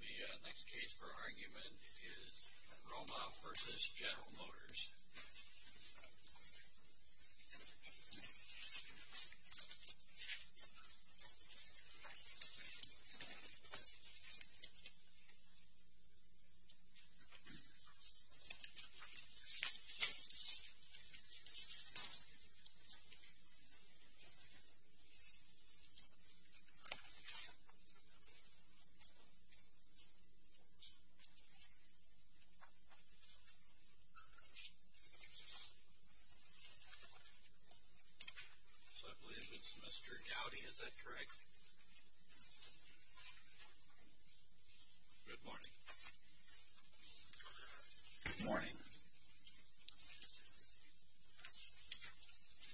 The next case for argument is Romoff v. General Motors. I believe it's Mr. Gowdy, is that correct? Good morning. Good morning.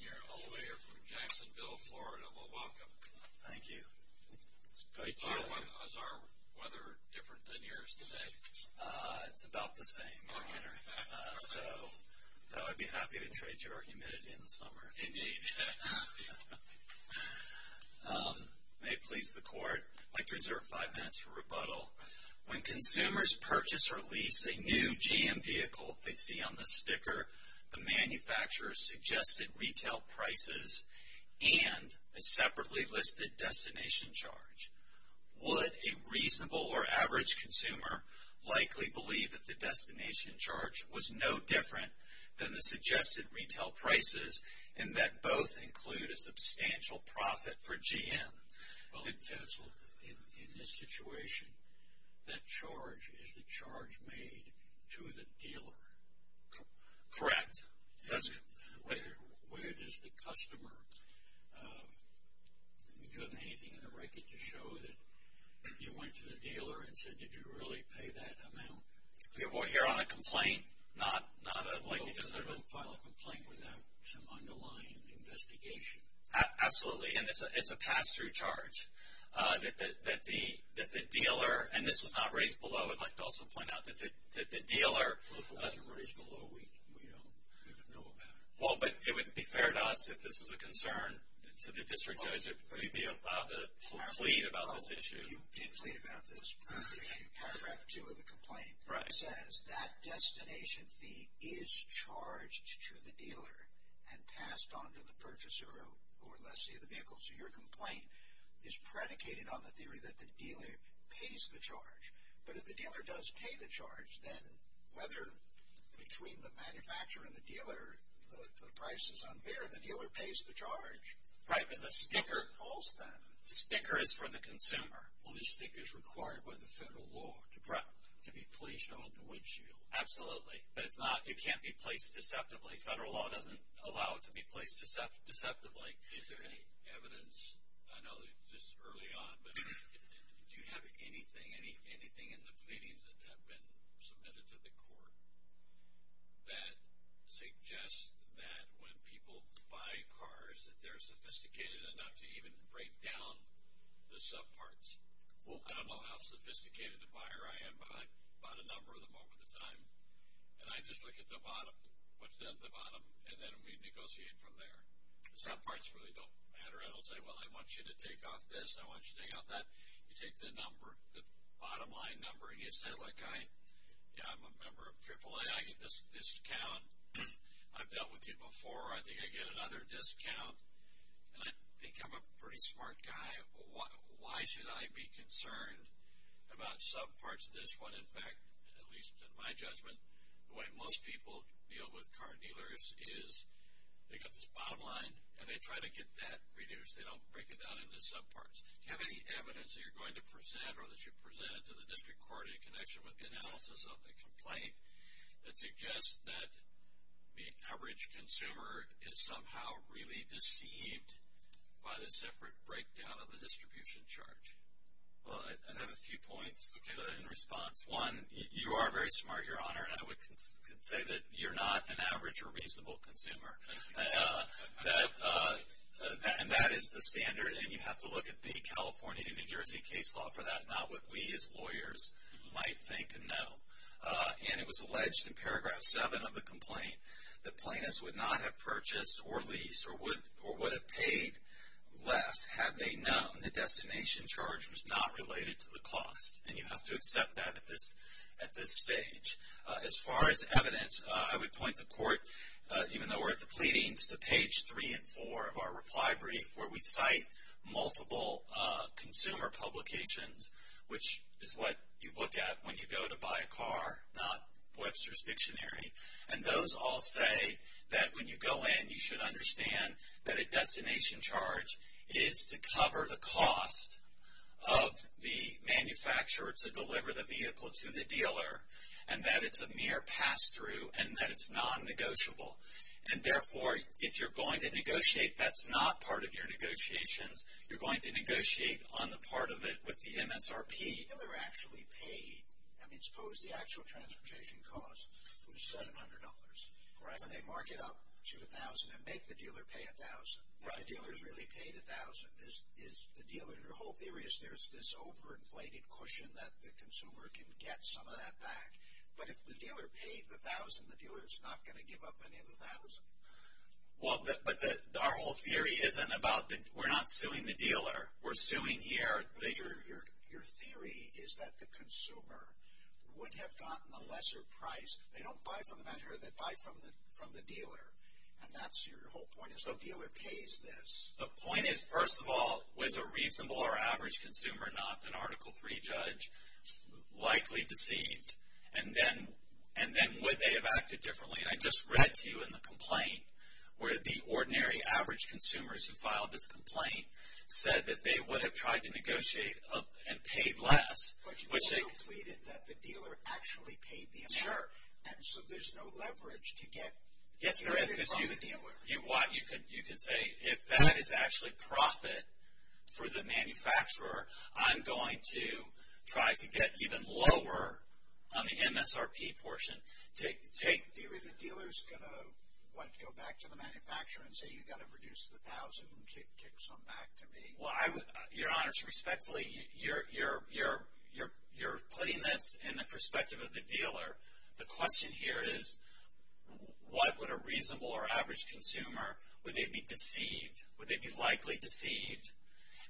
You're a lawyer from Jacksonville, Florida. Well, welcome. Thank you. Is our weather different than yours today? It's about the same, Your Honor. So I'd be happy to trade you our humidity in the summer. Indeed. May it please the Court, I'd like to reserve five minutes for rebuttal. When consumers purchase or lease a new GM vehicle, they see on the sticker the manufacturer's suggested retail prices and a separately listed destination charge. Would a reasonable or average consumer likely believe that the destination charge was no different than the suggested retail prices and that both include a substantial profit for GM? Well, counsel, in this situation, that charge is the charge made to the dealer. Correct. Where does the customer, do you have anything in the record to show that you went to the dealer and said, did you really pay that amount? Well, here on a complaint, not like a... Well, because I don't file a complaint without some underlying investigation. Absolutely. And it's a pass-through charge that the dealer, and this was not raised below, I would like to also point out that the dealer... Well, if it wasn't raised below, we don't even know about it. Well, but it would be fair to us if this is a concern to the district judge, if we'd be allowed to plead about this issue. You plead about this. In paragraph two of the complaint, it says that destination fee is charged to the dealer and passed on to the purchaser or lessee of the vehicle. So your complaint is predicated on the theory that the dealer pays the charge. But if the dealer does pay the charge, then whether between the manufacturer and the dealer, the price is unfair, the dealer pays the charge. Right, but the sticker holds that. The sticker is for the consumer. Well, the sticker is required by the federal law to be placed on the windshield. Absolutely. But it can't be placed deceptively. Federal law doesn't allow it to be placed deceptively. Is there any evidence, I know this is early on, but do you have anything in the pleadings that have been submitted to the court that suggests that when people buy cars that they're sophisticated enough to even break down the subparts? Well, I don't know how sophisticated a buyer I am, but I bought a number of them over the time. And I just look at the bottom, what's down at the bottom, and then we negotiate from there. The subparts really don't matter. I don't say, well, I want you to take off this, I want you to take off that. You take the number, the bottom line number, and you say, like, I'm a member of AAA, I get this discount. I've dealt with you before. I think I get another discount. And I think I'm a pretty smart guy. Why should I be concerned about subparts of this when, in fact, at least in my judgment, the way most people deal with car dealers is they've got this bottom line, and they try to get that reduced. They don't break it down into subparts. Do you have any evidence that you're going to present or that you presented to the district court in connection with the analysis of the complaint that suggests that the average consumer is somehow really deceived by the separate breakdown of the distribution charge? Well, I have a few points in response. One, you are very smart, Your Honor, and I would say that you're not an average or reasonable consumer. And that is the standard, and you have to look at the California and New Jersey case law for that, not what we as lawyers might think and know. And it was alleged in Paragraph 7 of the complaint that plaintiffs would not have purchased or leased or would have paid less had they known the destination charge was not related to the cost. And you have to accept that at this stage. As far as evidence, I would point the court, even though we're at the pleadings, to page 3 and 4 of our reply brief where we cite multiple consumer publications, which is what you look at when you go to buy a car, not Webster's Dictionary. And those all say that when you go in, you should understand that a destination charge is to cover the cost of the manufacturer to deliver the vehicle to the dealer and that it's a mere pass-through and that it's non-negotiable. And therefore, if you're going to negotiate, that's not part of your negotiations. You're going to negotiate on the part of it with the MSRP. The dealer actually paid. I mean, suppose the actual transportation cost was $700. And they mark it up to $1,000 and make the dealer pay $1,000. And the dealer's really paid $1,000. Is the dealer – your whole theory is there's this overinflated cushion that the consumer can get some of that back. But if the dealer paid the $1,000, the dealer's not going to give up any of the $1,000. Well, but our whole theory isn't about – we're not suing the dealer. We're suing here. But your theory is that the consumer would have gotten a lesser price. They don't buy from the manufacturer. They buy from the dealer. And that's your whole point is the dealer pays this. The point is, first of all, was a reasonable or average consumer, not an Article III judge, likely deceived? And then would they have acted differently? And I just read to you in the complaint where the ordinary average consumers who filed this complaint said that they would have tried to negotiate and paid less. But you also pleaded that the dealer actually paid the amount. Sure. And so there's no leverage to get money from the dealer. Yes, there is because you could say if that is actually profit for the manufacturer, I'm going to try to get even lower on the MSRP portion. The dealer is going to, what, go back to the manufacturer and say you've got to reduce the $1,000 and kick some back to me? Well, Your Honor, respectfully, you're putting this in the perspective of the dealer. The question here is what would a reasonable or average consumer – would they be deceived? Would they be likely deceived?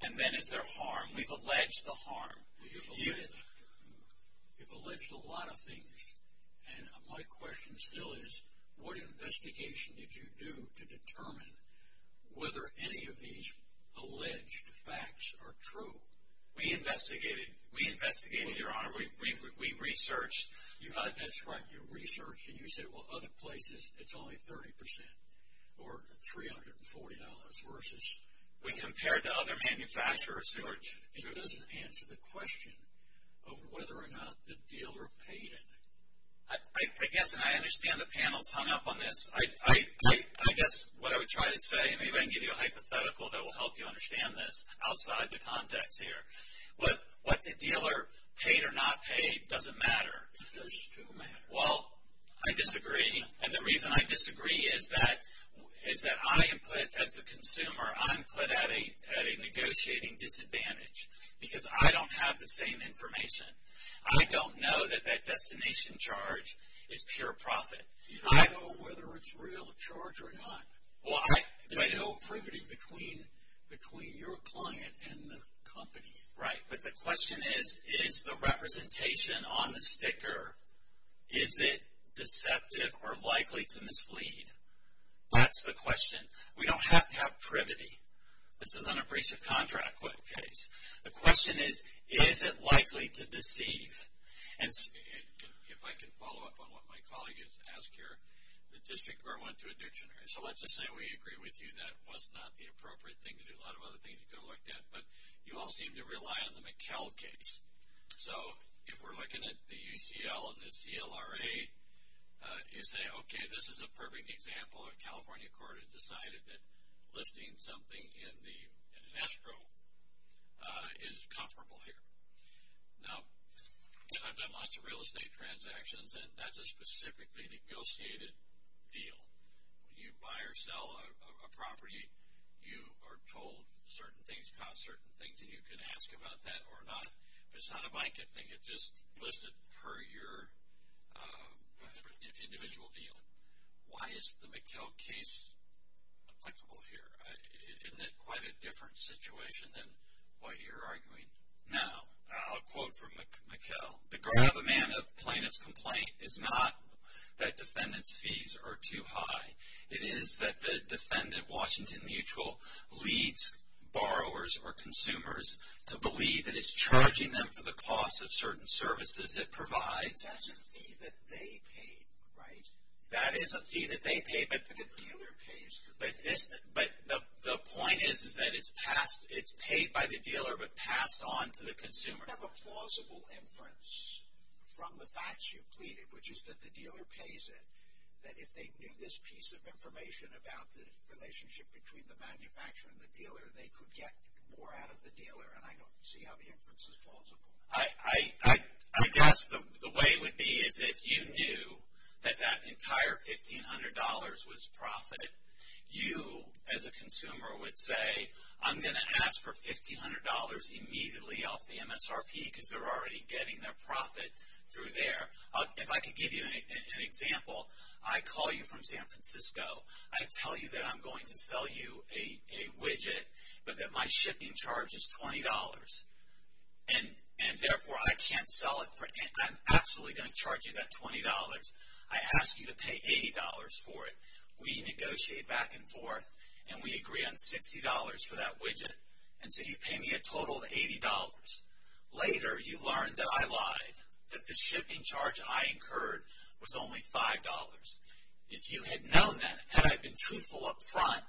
And then is there harm? We've alleged the harm. You've alleged a lot of things, and my question still is what investigation did you do to determine whether any of these alleged facts are true? We investigated, Your Honor. We researched. That's right. You researched, and you said, well, other places it's only 30% or $340 versus. We compared to other manufacturers. It doesn't answer the question of whether or not the dealer paid it. I guess, and I understand the panel's hung up on this. I guess what I would try to say, and maybe I can give you a hypothetical that will help you understand this outside the context here. What the dealer paid or not paid doesn't matter. Those two matter. Well, I disagree, and the reason I disagree is that I am put, as a consumer, I'm put at a negotiating disadvantage because I don't have the same information. I don't know that that destination charge is pure profit. You don't know whether it's a real charge or not. There's no privity between your client and the company. Right, but the question is, is the representation on the sticker, is it deceptive or likely to mislead? That's the question. We don't have to have privity. This is an abrasive contract case. The question is, is it likely to deceive? And if I can follow up on what my colleague has asked here, the district court went to a dictionary. So let's just say we agree with you that was not the appropriate thing to do. A lot of other things you could have looked at, but you all seem to rely on the McKell case. So if we're looking at the UCL and the CLRA, you say, okay, this is a perfect example. A California court has decided that listing something in an escrow is comparable here. Now, I've done lots of real estate transactions, and that's a specifically negotiated deal. When you buy or sell a property, you are told certain things cost certain things, and you can ask about that or not. But it's not a blanket thing. It's just listed per your individual deal. Why is the McKell case applicable here? Isn't it quite a different situation than what you're arguing? Now, I'll quote from McKell. The great other man of plaintiff's complaint is not that defendant's fees are too high. It is that the defendant, Washington Mutual, leads borrowers or consumers to believe that it's charging them for the cost of certain services it provides. That's a fee that they paid, right? That is a fee that they paid, but the dealer pays. But the point is that it's paid by the dealer but passed on to the consumer. You have a plausible inference from the facts you've pleaded, which is that the dealer pays it, that if they knew this piece of information about the relationship between the manufacturer and the dealer, they could get more out of the dealer, and I don't see how the inference is plausible. I guess the way it would be is if you knew that that entire $1,500 was profit, you as a consumer would say, I'm going to ask for $1,500 immediately off the MSRP because they're already getting their profit through there. If I could give you an example, I call you from San Francisco. I tell you that I'm going to sell you a widget but that my shipping charge is $20. And therefore, I can't sell it. I'm absolutely going to charge you that $20. I ask you to pay $80 for it. We negotiate back and forth, and we agree on $60 for that widget. And so you pay me a total of $80. Later, you learn that I lied, that the shipping charge I incurred was only $5. If you had known that, had I been truthful up front,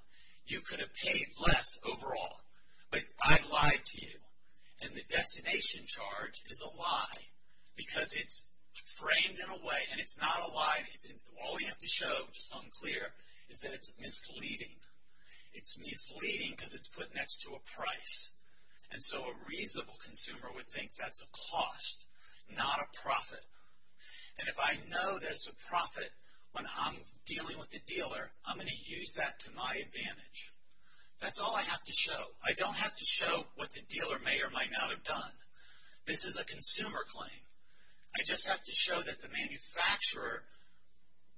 you could have paid less overall. But I lied to you, and the destination charge is a lie because it's framed in a way, and it's not a lie. All we have to show, which is unclear, is that it's misleading. It's misleading because it's put next to a price. And so a reasonable consumer would think that's a cost, not a profit. And if I know that it's a profit when I'm dealing with the dealer, I'm going to use that to my advantage. That's all I have to show. I don't have to show what the dealer may or might not have done. This is a consumer claim. I just have to show that the manufacturer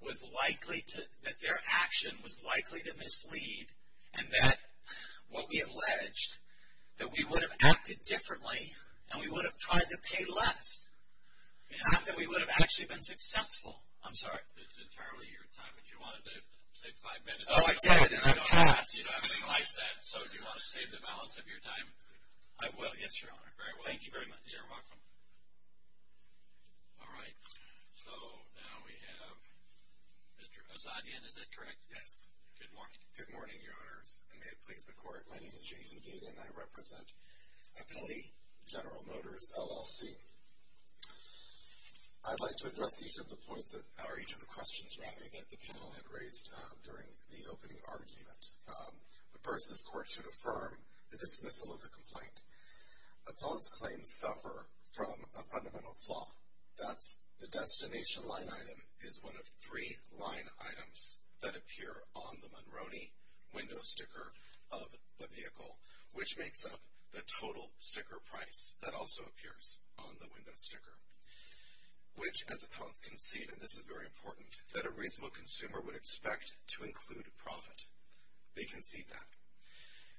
was likely to, that their action was likely to mislead, and that what we alleged, that we would have acted differently, and we would have tried to pay less. Not that we would have actually been successful. I'm sorry. It's entirely your time, but you wanted to save five minutes. Oh, I did, and I passed. So do you want to save the balance of your time? I will, yes, Your Honor. Very well. Thank you very much. You're welcome. All right. So now we have Mr. Azadian, is that correct? Yes. Good morning. Good morning, Your Honors, and may it please the Court, my name is James Azadian, and I represent Appellee General Motors, LLC. I'd like to address each of the points, or each of the questions, rather, that the panel had raised during the opening argument. First, this Court should affirm the dismissal of the complaint. Appellant's claims suffer from a fundamental flaw. That's the destination line item is one of three line items that appear on the Monroney window sticker of the vehicle, which makes up the total sticker price that also appears on the window sticker, which, as appellants concede, and this is very important, that a reasonable consumer would expect to include profit. They concede that.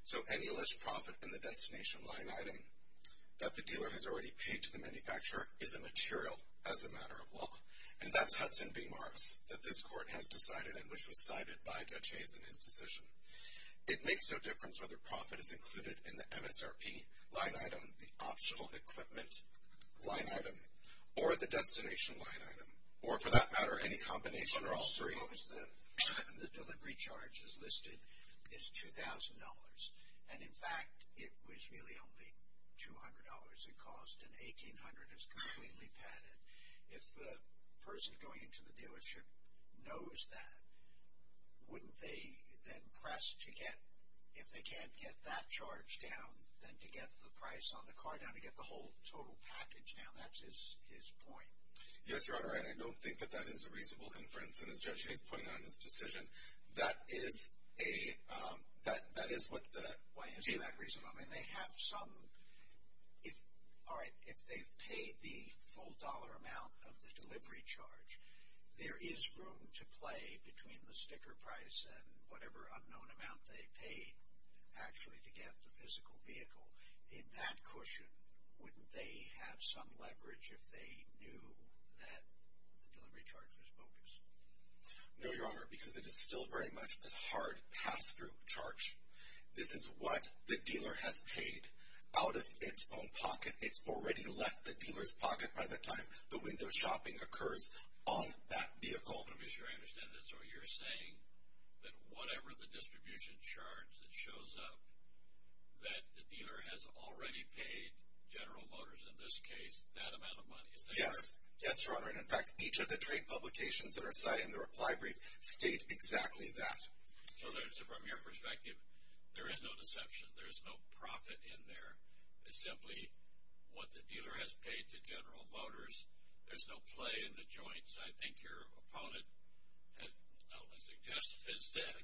So any alleged profit in the destination line item that the dealer has already paid to the manufacturer is immaterial as a matter of law, and that's Hudson v. Morris that this Court has decided and which was cited by Judge Hayes in his decision. It makes no difference whether profit is included in the MSRP line item, the optional equipment line item, or the destination line item, or for that matter, any combination of those three. The delivery charge as listed is $2,000. And, in fact, it was really only $200 it cost, and $1,800 is completely padded. If the person going into the dealership knows that, wouldn't they then press to get, if they can't get that charge down, then to get the price on the car down, to get the whole total package down? That's his point. Yes, Your Honor, and I don't think that that is a reasonable inference, and as Judge Hayes pointed out in his decision, that is what the... Why is he that reasonable? I mean, they have some... All right, if they've paid the full dollar amount of the delivery charge, there is room to play between the sticker price and whatever unknown amount they paid, actually, to get the physical vehicle. In that cushion, wouldn't they have some leverage if they knew that the delivery charge was bogus? No, Your Honor, because it is still very much a hard pass-through charge. This is what the dealer has paid out of its own pocket. It's already left the dealer's pocket by the time the window shopping occurs on that vehicle. I'm not sure I understand this. So you're saying that whatever the distribution charge that shows up, that the dealer has already paid General Motors, in this case, that amount of money, is that correct? Yes, Your Honor, and in fact, each of the trade publications that are cited in the reply brief state exactly that. So from your perspective, there is no deception. There is no profit in there. It's simply what the dealer has paid to General Motors. There's no play in the joints. I think your opponent has said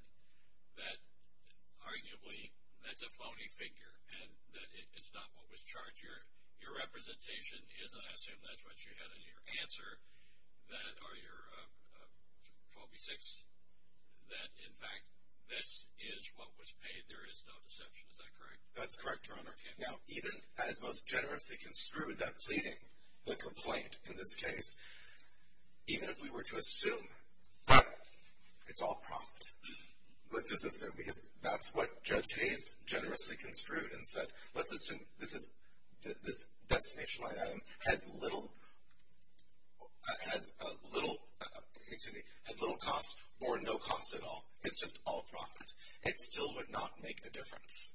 that arguably that's a phony figure and that it's not what was charged. Your representation is, and I assume that's what you had in your answer, or your 12 v. 6, that in fact this is what was paid. There is no deception. Is that correct? That's correct, Your Honor. Now, even as most generously construed, that pleading, the complaint in this case, even if we were to assume that it's all profit, let's just assume, because that's what Judge Hayes generously construed and said, let's assume this destination line item has little, excuse me, has little cost or no cost at all. It's just all profit. It still would not make a difference.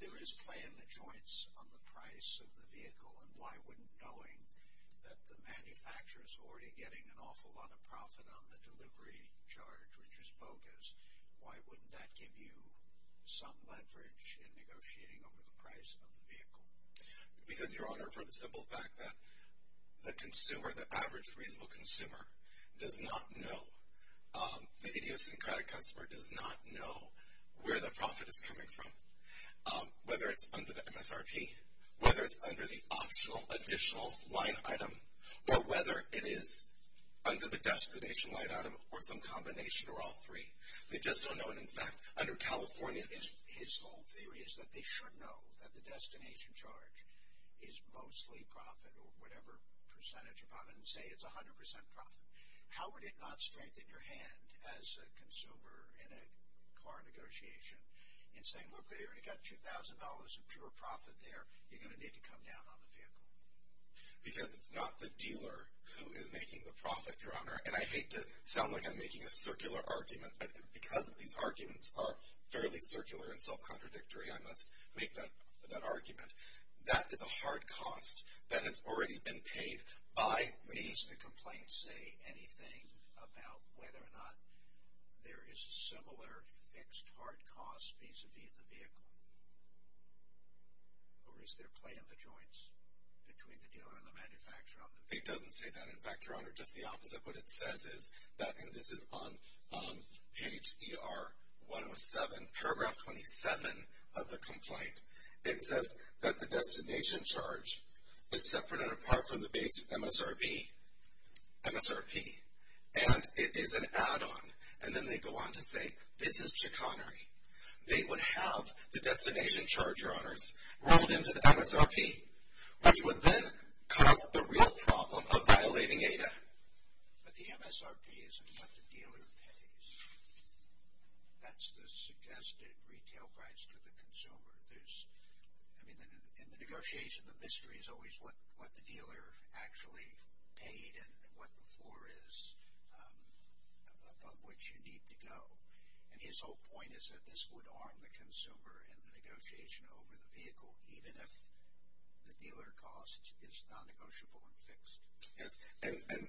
There is play in the joints on the price of the vehicle, and why wouldn't, knowing that the manufacturer is already getting an awful lot of profit on the delivery charge, which is bogus, why wouldn't that give you some leverage in negotiating over the price of the vehicle? Because, Your Honor, for the simple fact that the consumer, the average reasonable consumer, does not know, the idiosyncratic customer does not know where the profit is coming from, whether it's under the MSRP, whether it's under the optional additional line item, or whether it is under the destination line item or some combination or all three. They just don't know. And, in fact, under California, his whole theory is that they should know that the destination charge is mostly profit or whatever percentage upon it and say it's 100% profit. How would it not strengthen your hand as a consumer in a car negotiation in saying, look, they already got $2,000 of pure profit there. You're going to need to come down on the vehicle. Because it's not the dealer who is making the profit, Your Honor. And I hate to sound like I'm making a circular argument, but because these arguments are fairly circular and self-contradictory, I must make that argument. That is a hard cost that has already been paid by me. Does the complaint say anything about whether or not there is a similar fixed hard cost vis-a-vis the vehicle? Or is there play in the joints between the dealer and the manufacturer on the vehicle? It doesn't say that. In fact, Your Honor, just the opposite. What it says is that, and this is on page ER107, paragraph 27 of the complaint, it says that the destination charge is separate and apart from the base MSRP. And it is an add-on. And then they go on to say this is chicanery. They would have the destination charge, Your Honors, rolled into the MSRP, which would then cause the real problem of violating ADA. But the MSRP isn't what the dealer pays. That's the suggested retail price to the consumer. In the negotiation, the mystery is always what the dealer actually paid and what the floor is above which you need to go. And his whole point is that this would arm the consumer in the negotiation over the vehicle, even if the dealer cost is non-negotiable and fixed. And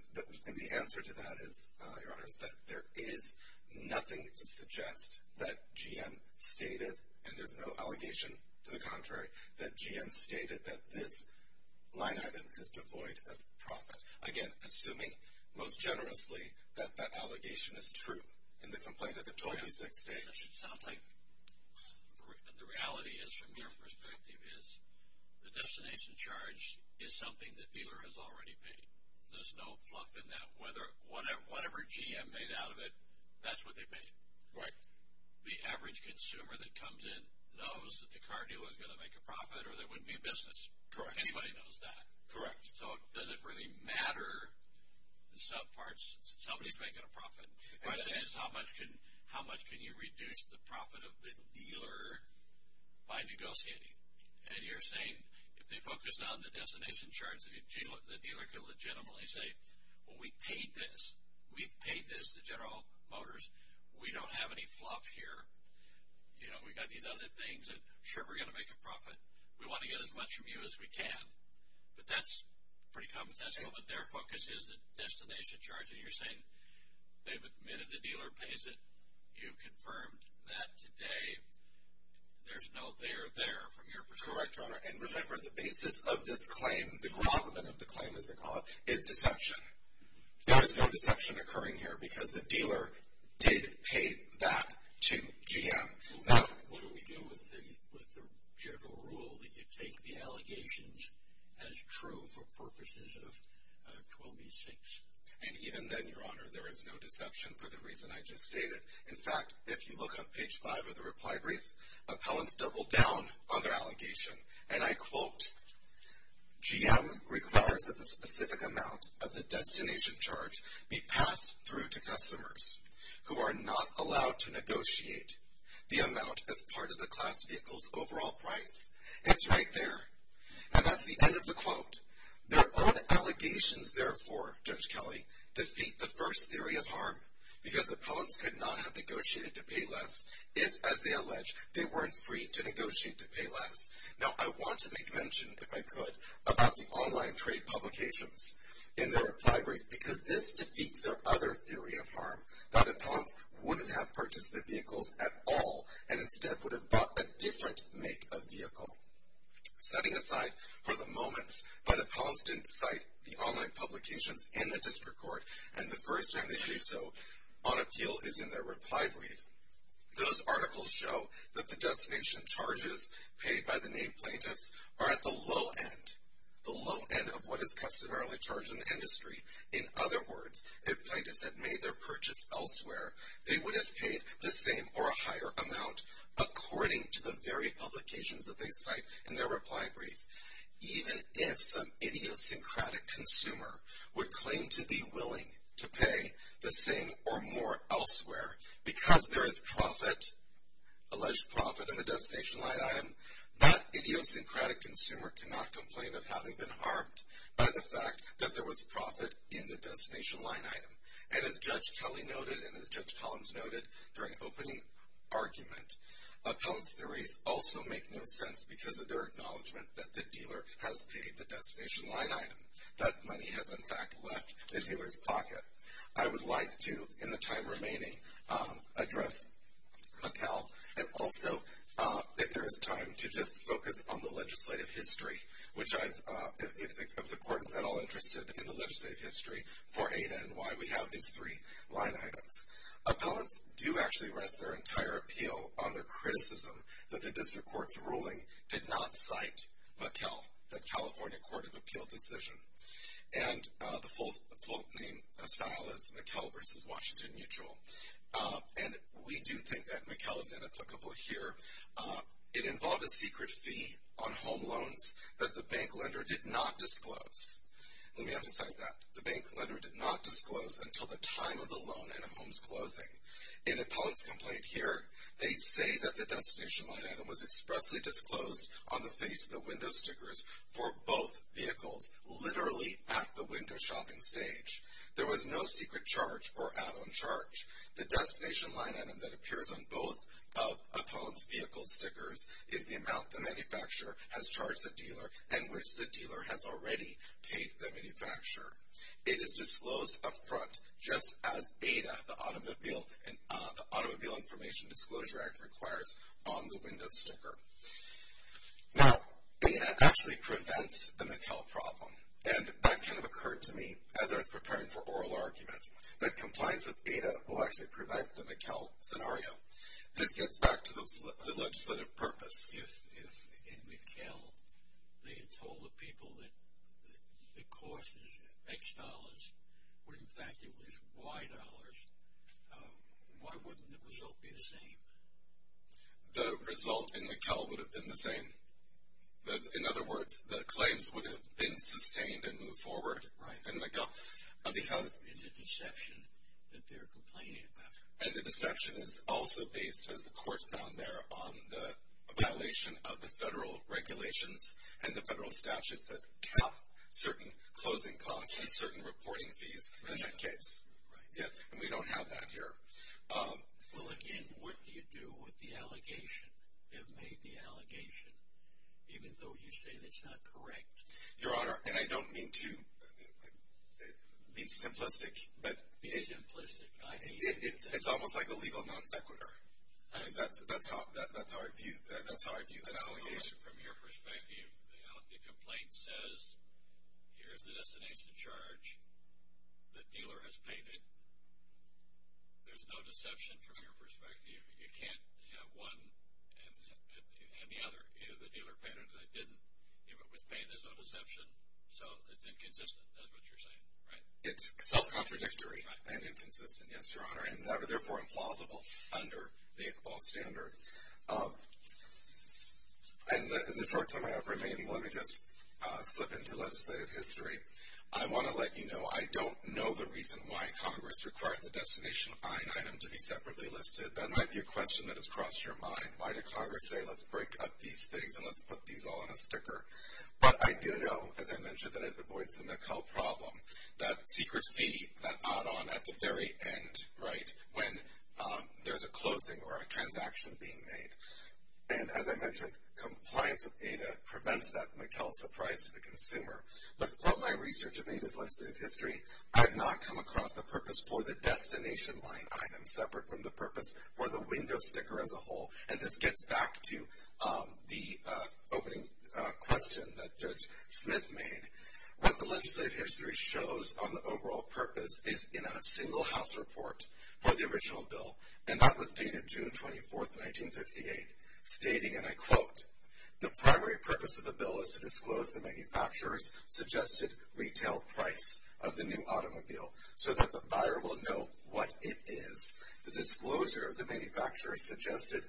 the answer to that is, Your Honors, that there is nothing to suggest that GM stated, and there's no allegation to the contrary, that GM stated that this line item is devoid of profit. Again, assuming most generously that that allegation is true in the complaint at the 26th stage. It sounds like the reality is, from your perspective, is the destination charge is something the dealer has already paid. There's no fluff in that. Whatever GM made out of it, that's what they paid. Right. The average consumer that comes in knows that the car dealer is going to make a profit or there wouldn't be a business. Correct. Anybody knows that. Correct. So does it really matter? Somebody's making a profit. The question is, how much can you reduce the profit of the dealer by negotiating? And you're saying, if they focus on the destination charge, the dealer can legitimately say, Well, we paid this. We've paid this to General Motors. We don't have any fluff here. You know, we've got these other things. I'm sure we're going to make a profit. We want to get as much from you as we can. But that's pretty competential. But their focus is the destination charge. So you're saying they've admitted the dealer pays it. You've confirmed that today. There's no there there from your perspective. Correct, Your Honor. And remember, the basis of this claim, the grovelment of the claim, as they call it, is deception. There is no deception occurring here because the dealer did pay that to GM. So what do we do with the general rule that you take the allegations as true for purposes of 12b-6? And even then, Your Honor, there is no deception for the reason I just stated. In fact, if you look on page 5 of the reply brief, appellants double down on their allegation. And I quote, GM requires that the specific amount of the destination charge be passed through to customers who are not allowed to negotiate the amount as part of the class vehicle's overall price. It's right there. And that's the end of the quote. Their own allegations, therefore, Judge Kelly, defeat the first theory of harm because appellants could not have negotiated to pay less if, as they allege, they weren't free to negotiate to pay less. Now, I want to make mention, if I could, about the online trade publications in their reply brief because this defeats their other theory of harm, that appellants wouldn't have purchased the vehicles at all and instead would have bought a different make of vehicle. Setting aside for the moment, appellants didn't cite the online publications in the district court and the first time they do so on appeal is in their reply brief. Those articles show that the destination charges paid by the named plaintiffs are at the low end, the low end of what is customarily charged in the industry. In other words, if plaintiffs had made their purchase elsewhere, they would have paid the same or a higher amount according to the very publications that they cite in their reply brief. Even if some idiosyncratic consumer would claim to be willing to pay the same or more elsewhere because there is profit, alleged profit, in the destination line item, that idiosyncratic consumer cannot complain of having been harmed by the fact that there was profit in the destination line item. And as Judge Kelly noted and as Judge Collins noted during opening argument, appellants' theories also make no sense because of their acknowledgement that the dealer has paid the destination line item, that money has in fact left the dealer's pocket. I would like to, in the time remaining, address Mattel and also, if there is time, to just focus on the legislative history, which I, if the court is at all interested in the legislative history for ADA and why we have these three line items. Appellants do actually rest their entire appeal on their criticism that the district court's ruling did not cite Mattel, the California Court of Appeal decision. And the full quote name style is Mattel versus Washington Mutual. And we do think that Mattel is inapplicable here. It involved a secret fee on home loans that the bank lender did not disclose. Let me emphasize that. The bank lender did not disclose until the time of the loan in a home's closing. In appellant's complaint here, they say that the destination line item was expressly disclosed on the face of the window stickers for both vehicles, literally at the window shopping stage. There was no secret charge or add-on charge. The destination line item that appears on both of appellant's vehicle stickers is the amount the manufacturer has charged the dealer and which the dealer has already paid the manufacturer. It is disclosed up front just as ADA, the Automobile Information Disclosure Act, requires on the window sticker. Now, ADA actually prevents the Mattel problem. And that kind of occurred to me as I was preparing for oral argument. But compliance with ADA will actually prevent the Mattel scenario. This gets back to the legislative purpose. If in Mattel they had told the people that the cost is X dollars, when in fact it was Y dollars, why wouldn't the result be the same? The result in Mattel would have been the same. In other words, the claims would have been sustained and moved forward in Mattel. It's a deception that they're complaining about. And the deception is also based, as the court found there, on the violation of the federal regulations and the federal statutes that cap certain closing costs and certain reporting fees in that case. And we don't have that here. Well, again, what do you do with the allegation? They've made the allegation, even though you say that's not correct. Your Honor, and I don't mean to be simplistic. Be simplistic. It's almost like a legal non sequitur. That's how I view that allegation. From your perspective, the complaint says, here's the destination charge. The dealer has paid it. There's no deception from your perspective. You can't have one and the other. Either the dealer paid it or they didn't. With pay, there's no deception. So it's inconsistent, is what you're saying, right? It's self-contradictory and inconsistent, yes, Your Honor, and therefore implausible under the Iqbal standard. In the short time I have remaining, let me just slip into legislative history. I want to let you know, I don't know the reason why Congress required the destination fine item to be separately listed. That might be a question that has crossed your mind. Why did Congress say, let's break up these things and let's put these all on a sticker? But I do know, as I mentioned, that it avoids the Mackell problem, that secret fee, that add-on at the very end, right, when there's a closing or a transaction being made. And as I mentioned, compliance with ADA prevents that Mackell surprise to the consumer. But from my research of ADA's legislative history, I've not come across the purpose for the destination line item separate from the purpose for the window sticker as a whole. And this gets back to the opening question that Judge Smith made. What the legislative history shows on the overall purpose is in a single house report for the original bill. And that was dated June 24, 1958, stating, and I quote, the primary purpose of the bill is to disclose the manufacturer's suggested retail price of the new automobile so that the buyer will know what it is. The disclosure of the manufacturer's suggested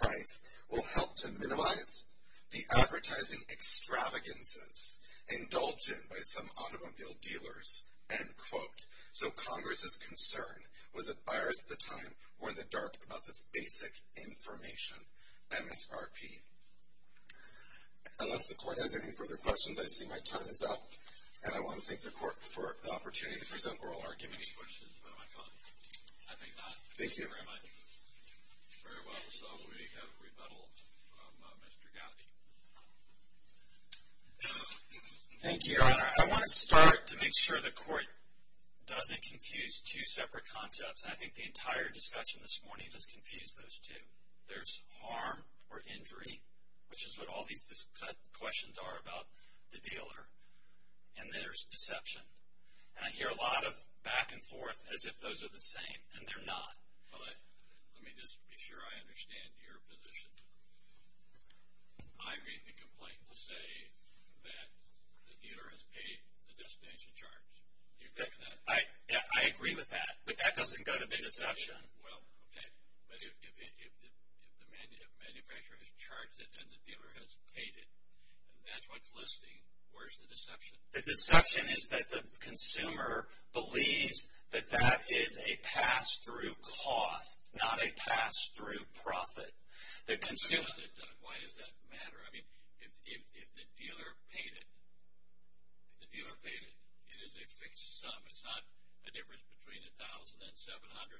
price will help to minimize the advertising extravagances indulged in by some automobile dealers, end quote. So Congress's concern was that buyers at the time were in the dark about this basic information, MSRP. Unless the Court has any further questions, I see my time is up. And I want to thank the Court for the opportunity to present oral arguments. Any questions for my colleague? I think not. Thank you very much. Very well. So we have rebuttal from Mr. Gowdy. Thank you, Your Honor. I want to start to make sure the Court doesn't confuse two separate concepts. I think the entire discussion this morning has confused those two. There's harm or injury, which is what all these questions are about the dealer. And there's deception. And I hear a lot of back and forth as if those are the same, and they're not. Let me just be sure I understand your position. I read the complaint to say that the dealer has paid the destination charge. Do you agree with that? I agree with that. But that doesn't go to the deception. Well, okay. But if the manufacturer has charged it and the dealer has paid it, and that's what's listing, where's the deception? The deception is that the consumer believes that that is a pass-through cost, not a pass-through profit. Why does that matter? I mean, if the dealer paid it, it is a fixed sum. It's not a difference between 1,000 and 700.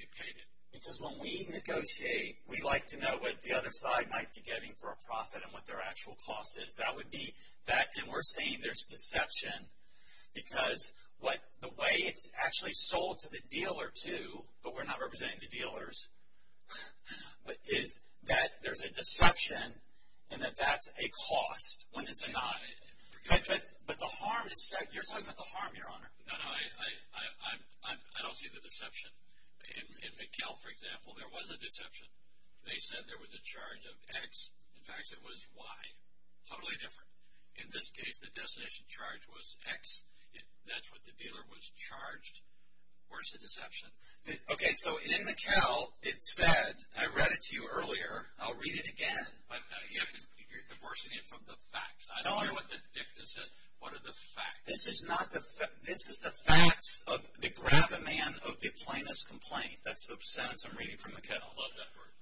It paid it. Because when we negotiate, we like to know what the other side might be getting for a profit and what their actual cost is. And we're saying there's deception because the way it's actually sold to the dealer, too, but we're not representing the dealers, is that there's a deception and that that's a cost when it's not. But the harm is set. You're talking about the harm, Your Honor. No, no, I don't see the deception. In McHale, for example, there was a deception. They said there was a charge of X. In fact, it was Y. Totally different. In this case, the destination charge was X. That's what the dealer was charged. Where's the deception? Okay, so in McHale, it said, I read it to you earlier. I'll read it again. You're divorcing it from the facts. I don't know what the dicta said. What are the facts? This is the facts of the gravamen of the plaintiff's complaint. That's the sentence I'm reading from McHale. I love that word,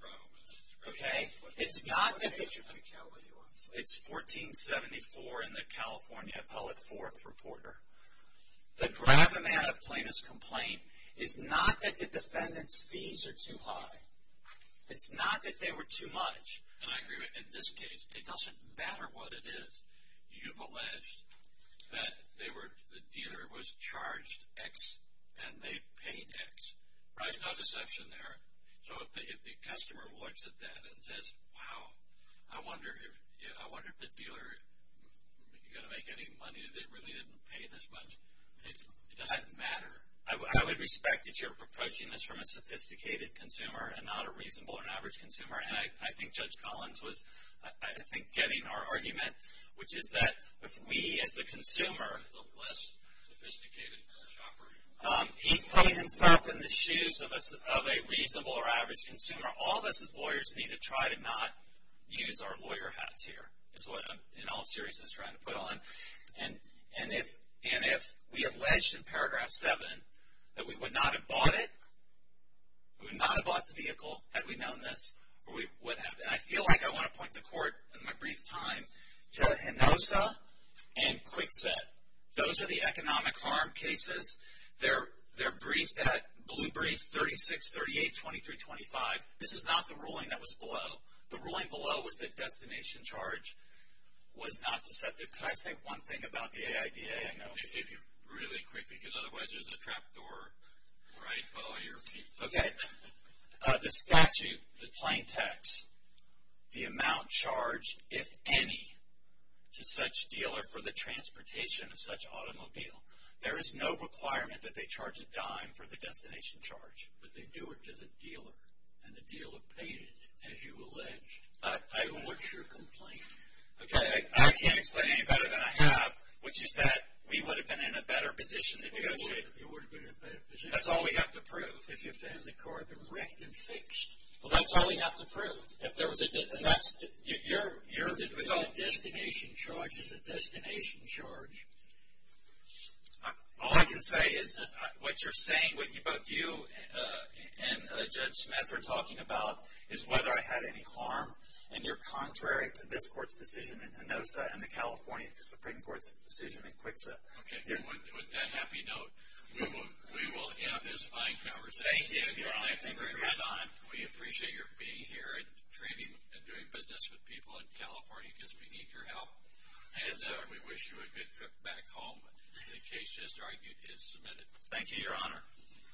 gravamen. It's not that the defendant's fees are too high. It's not that they were too much. And I agree with you. In this case, it doesn't matter what it is. You've alleged that the dealer was charged X and they paid X. There's no deception there. So if the customer looks at that and says, wow, I wonder if the dealer is going to make any money. They really didn't pay this much. It doesn't matter. I would respect that you're approaching this from a sophisticated consumer and not a reasonable or an average consumer. And I think Judge Collins was, I think, getting our argument, which is that if we as a consumer. A less sophisticated shopper. He's putting himself in the shoes of a reasonable or average consumer. All of us as lawyers need to try to not use our lawyer hats here. That's what I'm in all seriousness trying to put on. And if we alleged in paragraph 7 that we would not have bought it, we would not have bought the vehicle had we known this. And I feel like I want to point the court in my brief time to Hinosa and Kwikset. Those are the economic harm cases. They're briefed at Blue Brief 3638-2325. This is not the ruling that was below. The ruling below was that destination charge was not deceptive. Could I say one thing about the AIDA? If you really quickly, because otherwise there's a trap door. Okay. The statute, the plain text, the amount charged, if any, to such dealer for the transportation of such automobile. There is no requirement that they charge a dime for the destination charge. But they do it to the dealer. And the dealer paid it, as you allege. What's your complaint? I can't explain it any better than I have, which is that we would have been in a better position to negotiate. You would have been in a better position. That's all we have to prove. If you found the car had been wrecked and fixed. Well, that's all we have to prove. Your result? The destination charge is the destination charge. All I can say is what you're saying, what both you and Judge Smith are talking about, is whether I had any harm. And you're contrary to this court's decision in ANOSA and the California Supreme Court's decision in CWCSA. Okay. With that happy note, we will end this fine conversation. Thank you, Your Honor. Thank you very much. We appreciate your being here and training and doing business with people in California, because we need your help. And we wish you a good trip back home. The case just argued is submitted. Thank you, Your Honor.